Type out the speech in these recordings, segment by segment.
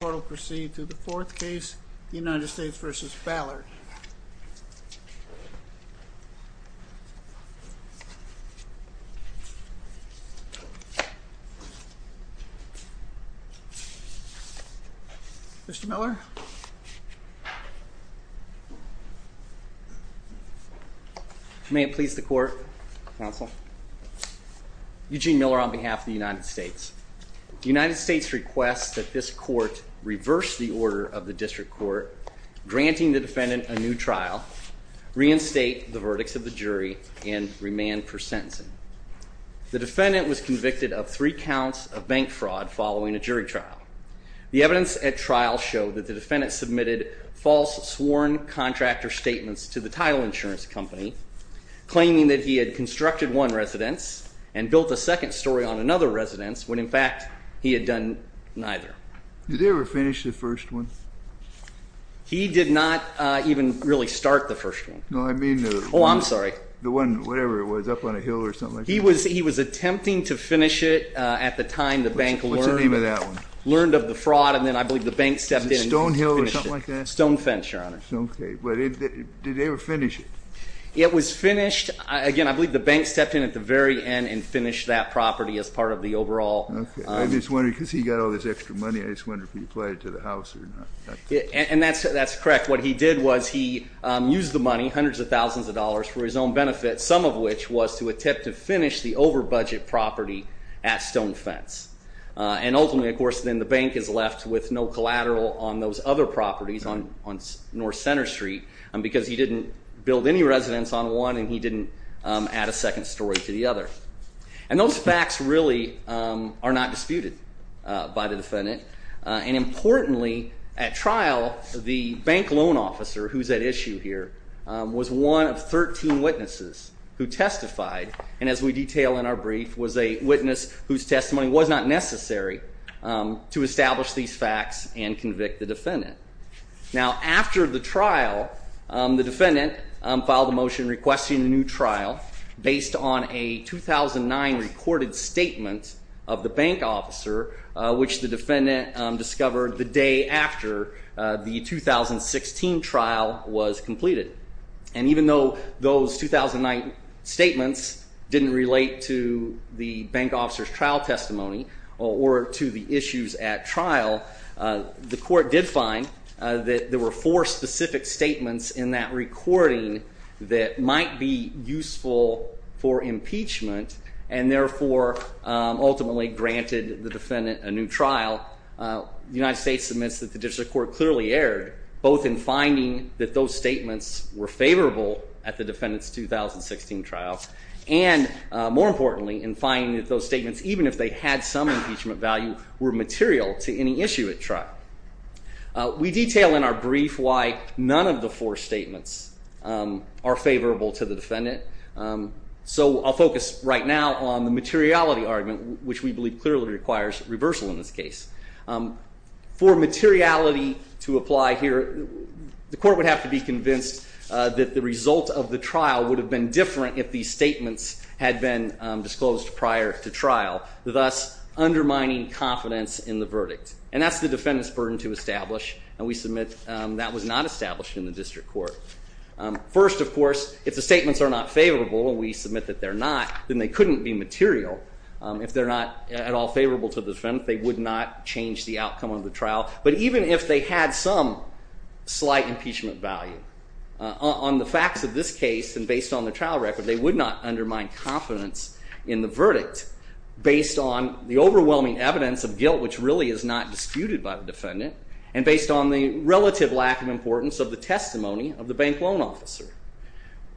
The court will proceed to the fourth case, United States v. Ballard. Mr. Miller. May it please the court, counsel. Eugene Miller on behalf of the United States. The United States requests that this court reverse the order of the district court, granting the defendant a new trial, reinstate the verdicts of the jury, and remand for sentencing. The defendant was convicted of three counts of bank fraud following a jury trial. The evidence at trial showed that the defendant submitted false sworn contractor statements to the title insurance company, claiming that he had constructed one residence and built a second story on another residence, when in fact he had done neither. Did he ever finish the first one? He did not even really start the first one. No, I mean the... Oh, I'm sorry. The one, whatever it was, up on a hill or something like that? He was attempting to finish it at the time the bank alert... What's the name of that one? ...learned of the fraud, and then I believe the bank stepped in... Stone Hill or something like that? Stone Fence, Your Honor. Okay. But did they ever finish it? It was finished, again, I believe the bank stepped in at the very end and finished that property as part of the overall... Okay. I'm just wondering, because he got all this extra money, I just wonder if he applied it to the house or not. And that's correct. What he did was he used the money, hundreds of thousands of dollars, for his own benefit, some of which was to attempt to finish the over-budget property at Stone Fence. And ultimately, of course, then the bank is left with no collateral on those other properties on North Center Street, because he didn't build any residence on one and he didn't add a second story to the other. And those facts really are not disputed by the defendant. And importantly, at trial, the bank loan officer who's at issue here was one of 13 witnesses who testified, and as we detail in our brief, was a witness whose testimony was not necessary to establish these facts and convict the defendant. Now, after the trial, the defendant filed a motion requesting a new trial based on a 2009 recorded statement of the bank officer, which the defendant discovered the day after the 2016 trial was completed. And even though those 2009 statements didn't relate to the bank officer's trial testimony or to the issues at trial, the court did find that there were four specific statements in that recording that might be useful for impeachment and therefore ultimately granted the defendant a new trial. The United States admits that the District Court clearly erred, both in finding that those statements were favorable at the defendant's 2016 trial, and more importantly, in finding that those statements, even if they had some impeachment value, were material to any issue at trial. We detail in our brief why none of the four statements are favorable to the defendant. So I'll focus right now on the materiality argument, which we believe clearly requires reversal in this case. For materiality to apply here, the court would have to be convinced that the result of the trial would have been different if these statements had been disclosed prior to trial, thus undermining confidence in the verdict. And that's the defendant's burden to establish, and we submit that was not established in the District Court. First, of course, if the statements are not favorable, and we submit that they're not, then they couldn't be material. If they're not at all favorable to the defendant, they would not change the outcome of the trial. But even if they had some slight impeachment value, on the facts of this case and based on the trial record, they would not undermine confidence in the verdict based on the overwhelming evidence of guilt, which really is not disputed by the defendant, and based on the relative lack of importance of the testimony of the bank loan officer.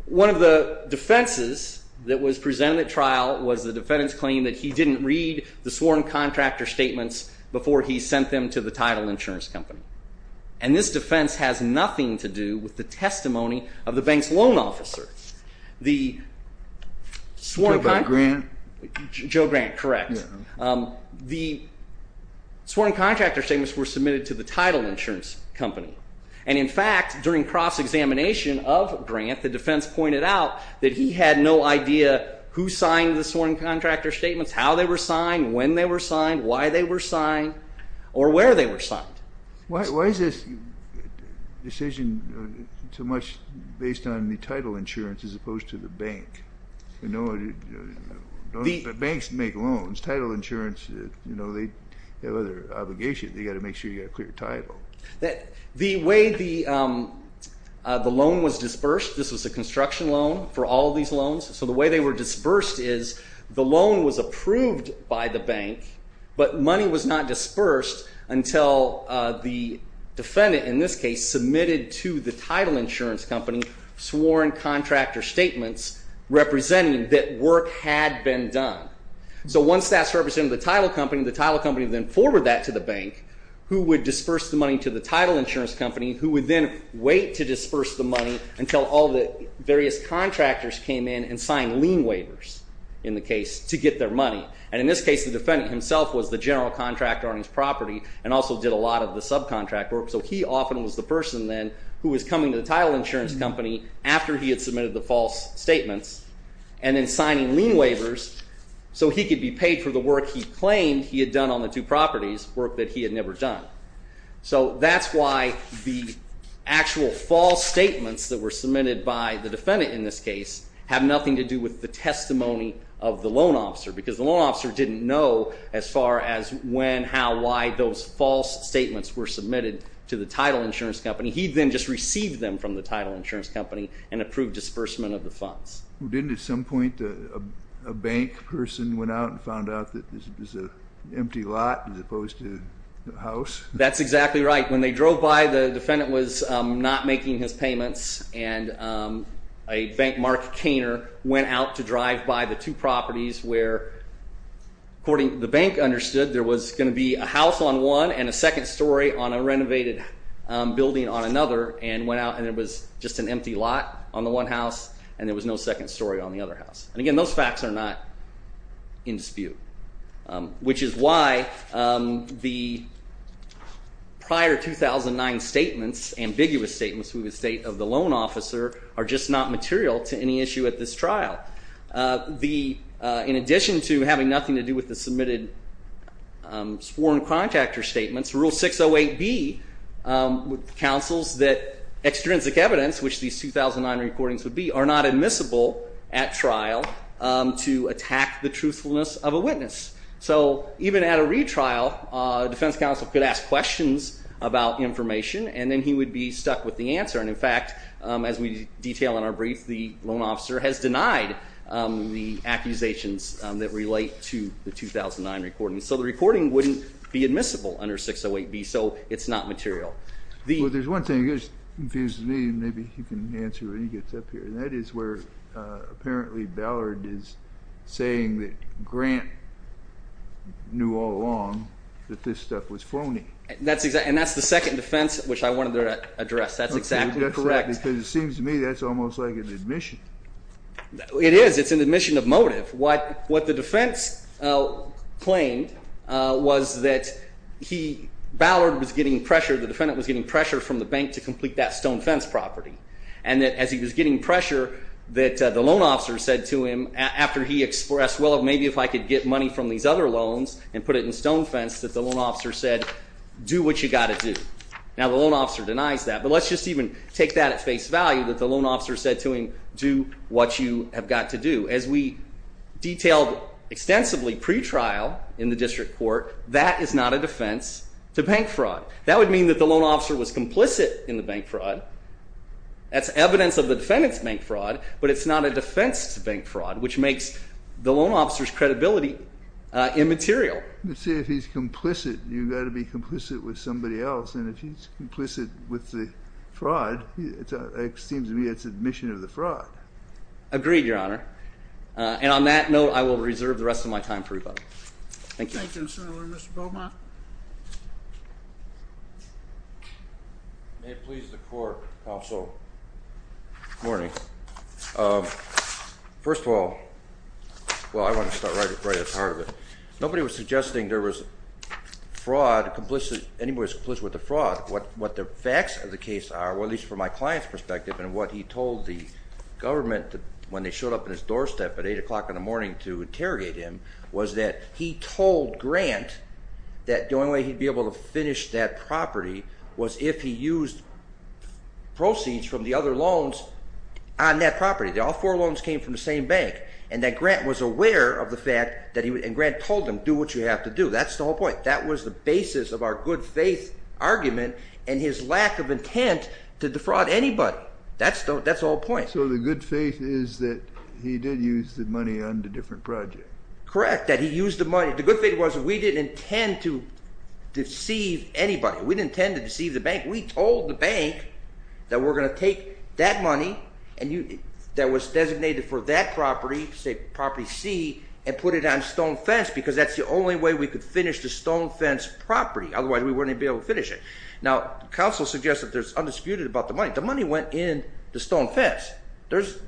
One of the defenses that was presented at trial was the defendant's claim that he didn't read the sworn contractor statements before he sent them to the title insurance company. And this defense has nothing to do with the testimony of the bank's loan officer. Joe Grant? Joe Grant, correct. The sworn contractor statements were submitted to the title insurance company. And in fact, during cross-examination of Grant, the defense pointed out that he had no idea who signed the sworn contractor statements, how they were signed, when they were signed, why they were signed, or where they were signed. Why is this decision so much based on the title insurance as opposed to the bank? You know, banks make loans. Title insurance, you know, they have other obligations. They've got to make sure you've got a clear title. The way the loan was dispersed, this was a construction loan for all these loans. So the way they were disbursed is the loan was approved by the bank, but money was not dispersed until the defendant, in this case, submitted to the title insurance company sworn contractor statements representing that work had been done. So once that's represented to the title company, the title company then forwarded that to the bank, who would disperse the money to the title insurance company, who would then wait to disperse the money until all the various contractors came in and signed lien waivers, in the case, to get their money. And in this case, the defendant himself was the general contractor on his property and also did a lot of the subcontract work, so he often was the person then who was coming to the title insurance company after he had submitted the false statements and then signing lien waivers so he could be paid for the work he claimed he had done on the two properties, work that he had never done. So that's why the actual false statements that were submitted by the defendant in this case have nothing to do with the testimony of the loan officer, because the loan officer didn't know as far as when, how, why those false statements were submitted to the title insurance company. He then just received them from the title insurance company and approved disbursement of the funds. Didn't at some point a bank person went out and found out that this was an empty lot as opposed to a house? That's exactly right. When they drove by, the defendant was not making his payments, and a bank, Mark Kainer, went out to drive by the two properties where, according to the bank, understood there was going to be a house on one and a second story on a renovated building on another and went out and it was just an empty lot on the one house and there was no second story on the other house. And again, those facts are not in dispute, which is why the prior 2009 statements, ambiguous statements, we would state of the loan officer are just not material to any issue at this trial. In addition to having nothing to do with the submitted sworn contractor statements, Rule 608B counsels that extrinsic evidence, which these 2009 recordings would be, are not admissible at trial to attack the truthfulness of a witness. So even at a retrial, a defense counsel could ask questions about information and then he would be stuck with the answer. And in fact, as we detail in our brief, the loan officer has denied the accusations that relate to the 2009 recording. So the recording wouldn't be admissible under 608B. So it's not material. Well, there's one thing that confuses me, and maybe you can answer when he gets up here, and that is where apparently Ballard is saying that Grant knew all along that this stuff was phony. And that's the second defense which I wanted to address. That's exactly correct. Because it seems to me that's almost like an admission. It is. It's an admission of motive. What the defense claimed was that Ballard was getting pressure, the defendant was getting pressure from the bank to complete that stone fence property, and that as he was getting pressure that the loan officer said to him after he expressed, well, maybe if I could get money from these other loans and put it in stone fence, that the loan officer said, do what you've got to do. Now, the loan officer denies that, but let's just even take that at face value, that the loan officer said to him, do what you have got to do. As we detailed extensively pretrial in the district court, that is not a defense to bank fraud. That would mean that the loan officer was complicit in the bank fraud. That's evidence of the defendant's bank fraud, but it's not a defense to bank fraud, which makes the loan officer's credibility immaterial. Let's say if he's complicit, you've got to be complicit with somebody else, and if he's complicit with the fraud, it seems to me it's admission of the fraud. Agreed, Your Honor. And on that note, I will reserve the rest of my time for rebuttal. Thank you. Thank you, Mr. Miller. Mr. Beaumont. May it please the Court, Counsel. Good morning. First of all, well, I want to start right at the heart of it. Nobody was suggesting there was fraud, anybody was complicit with the fraud. What the facts of the case are, well, at least from my client's perspective and what he told the government when they showed up at his doorstep at 8 o'clock in the morning to interrogate him was that he told Grant that the only way he'd be able to finish that property was if he used proceeds from the other loans on that property. All four loans came from the same bank, and that Grant was aware of the fact that he would and Grant told him, do what you have to do. That's the whole point. That was the basis of our good faith argument and his lack of intent to defraud anybody. That's the whole point. So the good faith is that he did use the money on a different project. Correct, that he used the money. The good faith was we didn't intend to deceive anybody. We didn't intend to deceive the bank. We told the bank that we're going to take that money that was designated for that property, say property C, and put it on Stone Fence because that's the only way we could finish the Stone Fence property. Otherwise, we wouldn't be able to finish it. Now, counsel suggests that there's undisputed about the money. The money went in the Stone Fence. There's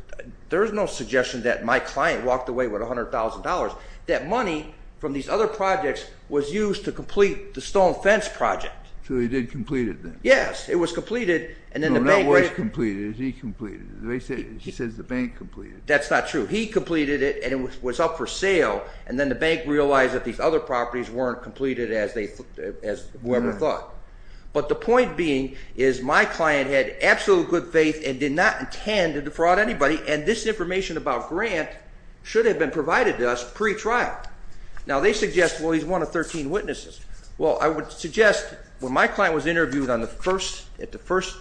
no suggestion that my client walked away with $100,000. That money from these other projects was used to complete the Stone Fence project. So he did complete it then? Yes, it was completed. No, not was completed. He completed it. He says the bank completed it. That's not true. He completed it, and it was up for sale, and then the bank realized that these other properties weren't completed as whoever thought. But the point being is my client had absolute good faith and did not intend to defraud anybody, and this information about Grant should have been provided to us pre-trial. Now, they suggest, well, he's one of 13 witnesses. Well, I would suggest when my client was interviewed on the first, at the first,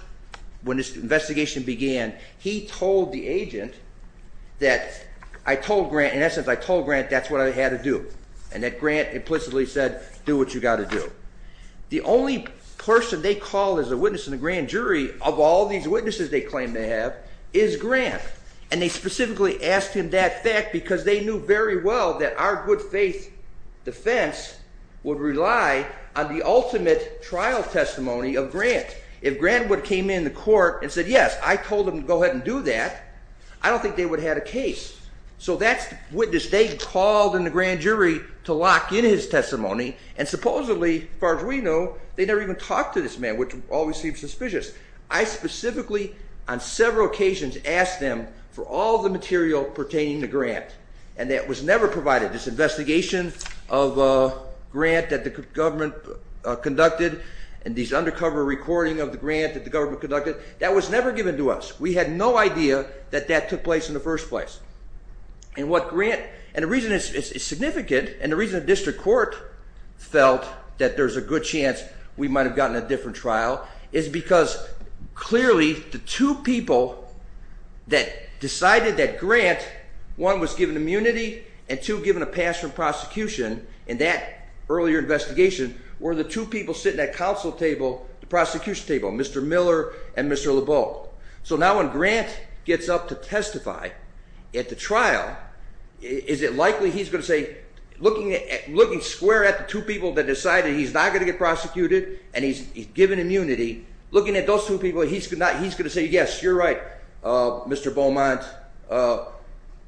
when this investigation began, he told the agent that I told Grant, in essence, I told Grant that's what I had to do, and that Grant implicitly said do what you got to do. The only person they called as a witness in the grand jury of all these witnesses they claimed to have is Grant, and they specifically asked him that fact because they knew very well that our good faith defense would rely on the ultimate trial testimony of Grant. If Grant would have came in the court and said, yes, I told him to go ahead and do that, I don't think they would have had a case. So that's the witness they called in the grand jury to lock in his testimony, and supposedly, as far as we know, they never even talked to this man, which always seems suspicious. I specifically, on several occasions, asked them for all the material pertaining to Grant, and that was never provided, this investigation of Grant that the government conducted and these undercover recording of the grant that the government conducted, that was never given to us. We had no idea that that took place in the first place. And what Grant, and the reason it's significant, and the reason the district court felt that there's a good chance we might have gotten a different trial is because, clearly, the two people that decided that Grant, one, was given immunity, and two, given a pass from prosecution in that earlier investigation, were the two people sitting at counsel table, the prosecution table, Mr. Miller and Mr. LeBow. So now when Grant gets up to testify at the trial, is it likely he's going to say, looking square at the two people that decided he's not going to get prosecuted and he's given immunity, looking at those two people, he's going to say, yes, you're right, Mr. Beaumont,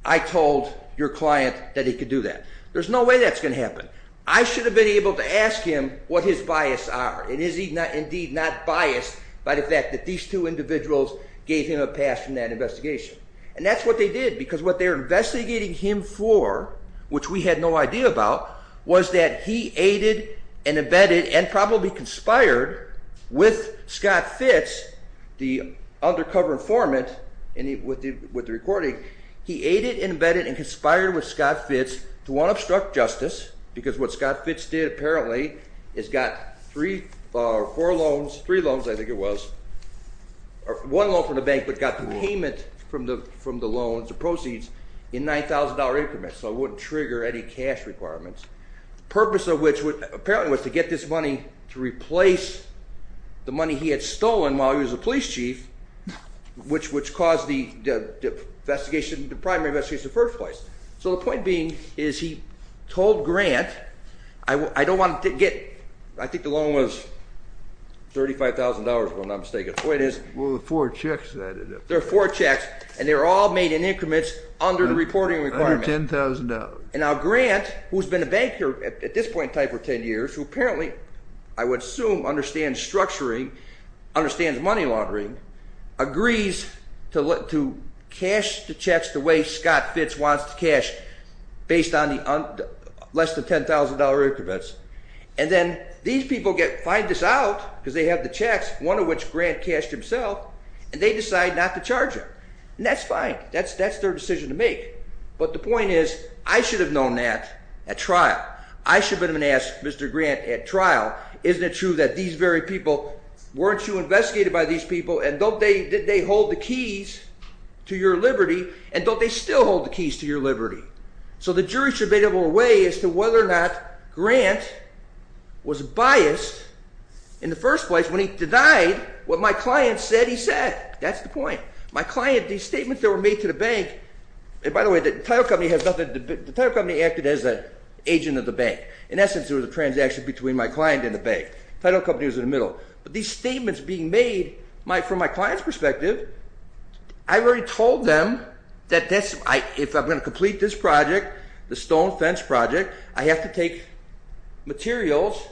I told your client that he could do that. There's no way that's going to happen. I should have been able to ask him what his bias are, and is he indeed not biased by the fact that these two individuals gave him a pass from that investigation. And that's what they did, because what they're investigating him for, which we had no idea about, was that he aided and abetted and probably conspired with Scott Fitz, the undercover informant with the recording, he aided and abetted and conspired with Scott Fitz to want to obstruct justice, because what Scott Fitz did apparently is got three or four loans, three loans I think it was, one loan from the bank but got the payment from the loans, the proceeds, in $9,000 increments, so it wouldn't trigger any cash requirements. The purpose of which apparently was to get this money to replace the money he had stolen while he was a police chief, which caused the investigation, the primary investigation in the first place. So the point being is he told Grant, I don't want to get, I think the loan was $35,000 if I'm not mistaken, the point is there are four checks and they're all made in increments under the reporting requirements. $110,000. And now Grant, who's been a banker at this point in time for 10 years, who apparently I would assume understands structuring, understands money laundering, agrees to cash the checks the way Scott Fitz wants to cash based on the less than $10,000 increments, and then these people find this out because they have the checks, one of which Grant cashed himself, and they decide not to charge him. And that's fine. That's their decision to make. But the point is I should have known that at trial. I should have been asked, Mr. Grant, at trial, isn't it true that these very people, weren't you investigated by these people, and don't they hold the keys to your liberty, and don't they still hold the keys to your liberty? So the jury should be able to weigh as to whether or not Grant was biased in the first place when he denied what my client said he said. That's the point. My client, these statements that were made to the bank, and by the way, the title company acted as an agent of the bank. In essence, it was a transaction between my client and the bank. Title company was in the middle. But these statements being made from my client's perspective, I already told them that if I'm going to complete this project, the stone fence project, I have to take materials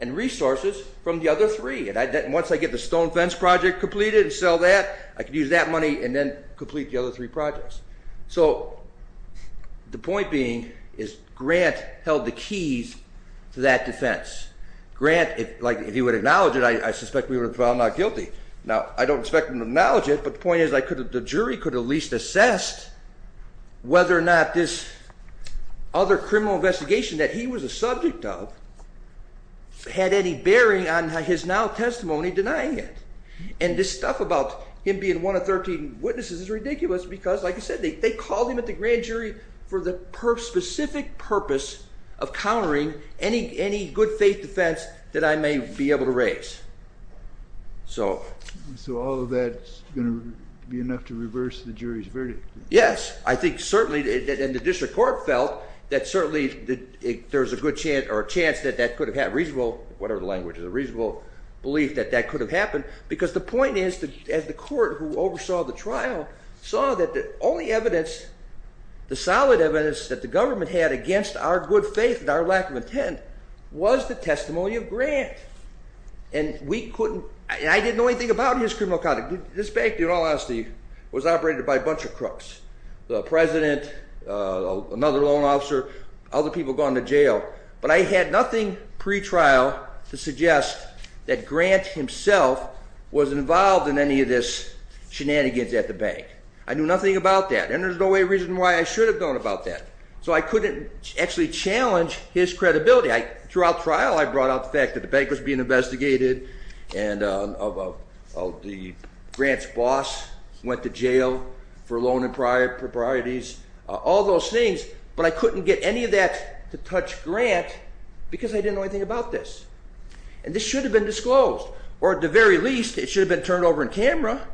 and resources from the other three. Once I get the stone fence project completed and sell that, I can use that money and then complete the other three projects. So the point being is Grant held the keys to that defense. Grant, if he would acknowledge it, I suspect we would have found him not guilty. Now, I don't expect him to acknowledge it, but the point is the jury could have at least assessed whether or not this other criminal investigation that he was a subject of had any bearing on his now testimony denying it. And this stuff about him being one of 13 witnesses is ridiculous because, like I said, they called him at the grand jury for the specific purpose of countering any good faith defense that I may be able to raise. So all of that is going to be enough to reverse the jury's verdict? Yes, I think certainly. And the district court felt that certainly there's a good chance or a chance that that could have had reasonable, whatever the language is, a reasonable belief that that could have happened because the point is that the court who oversaw the trial saw that the only evidence, the solid evidence that the government had against our good faith and our lack of intent was the testimony of Grant. And we couldn't, and I didn't know anything about his criminal conduct. This bank, in all honesty, was operated by a bunch of crooks, the president, another loan officer, other people gone to jail. But I had nothing pretrial to suggest that Grant himself was involved in any of this shenanigans at the bank. I knew nothing about that, and there's no way reason why I should have known about that. So I couldn't actually challenge his credibility. Throughout trial, I brought up the fact that the bank was being investigated and that Grant's boss went to jail for loan improprieties, all those things. But I couldn't get any of that to touch Grant because I didn't know anything about this. And this should have been disclosed. Or at the very least, it should have been turned over on camera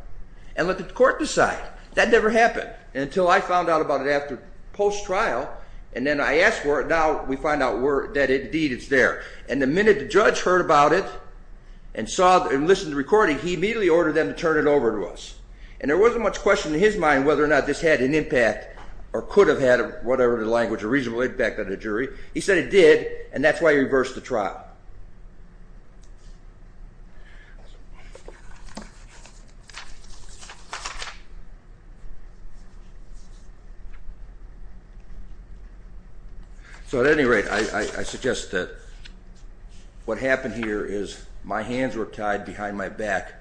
and let the court decide. That never happened until I found out about it after post-trial. And then I asked for it. Now we find out that, indeed, it's there. And the minute the judge heard about it and listened to the recording, he immediately ordered them to turn it over to us. And there wasn't much question in his mind whether or not this had an impact or could have had, whatever the language, a reasonable impact on the jury. He said it did, and that's why he reversed the trial. So at any rate, I suggest that what happened here is my hands were tied behind my back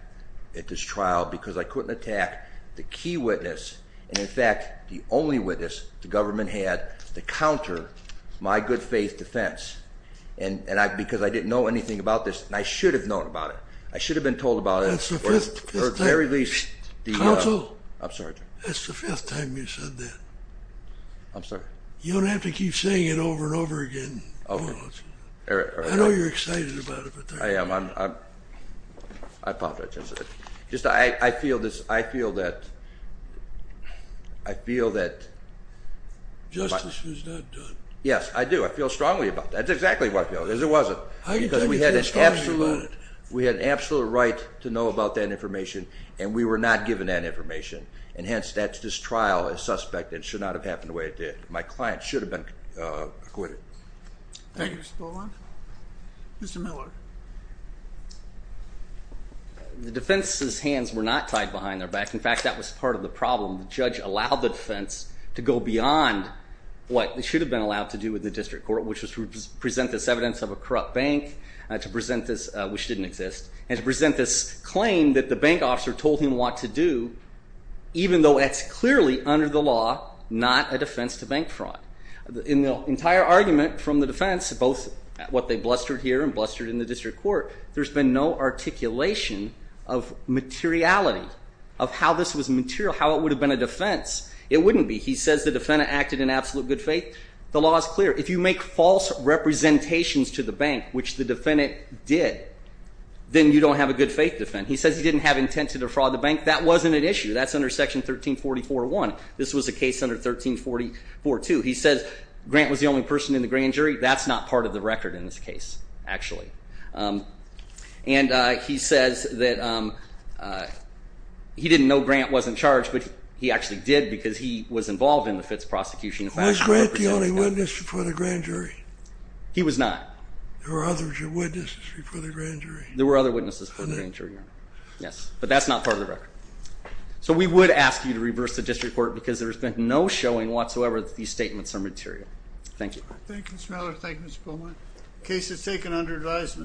at this trial because I couldn't attack the key witness and, in fact, the only witness the government had to counter my good-faith defense. And because I didn't know anything about this, and I should have known about it, I should have been told about it. At the very least, the— Counsel? I'm sorry, Jim. That's the first time you said that. I'm sorry. You don't have to keep saying it over and over again. All right. I know you're excited about it, but— I am. I apologize. Just I feel that— I feel that— Justice was not done. Yes, I do. I feel strongly about that. That's exactly what I feel. It wasn't because we had an absolute right to know about that information, and we were not given that information. And hence, that's this trial is suspect. It should not have happened the way it did. My client should have been acquitted. Thank you. Mr. Boland? Mr. Miller? The defense's hands were not tied behind their back. In fact, that was part of the problem. The judge allowed the defense to go beyond what it should have been allowed to do with the district court, which was to present this evidence of a corrupt bank, which didn't exist, and to present this claim that the bank officer told him what to do, even though it's clearly under the law not a defense to bank fraud. In the entire argument from the defense, both what they blustered here and blustered in the district court, there's been no articulation of materiality, of how this was material, how it would have been a defense. It wouldn't be. He says the defendant acted in absolute good faith. The law is clear. If you make false representations to the bank, which the defendant did, then you don't have a good faith defense. He says he didn't have intent to defraud the bank. That wasn't an issue. That's under Section 1344-1. This was a case under 1344-2. He says Grant was the only person in the grand jury. That's not part of the record in this case, actually. And he says that he didn't know Grant wasn't charged, but he actually did because he was involved in the Fitz prosecution. Was Grant the only witness before the grand jury? He was not. There were other witnesses before the grand jury? There were other witnesses before the grand jury, yes. But that's not part of the record. So we would ask you to reverse the district court because there's been no showing whatsoever that these statements are material. Thank you. Thank you, Mr. Miller. Thank you, Mr. Beaumont. The case is taken under advisement.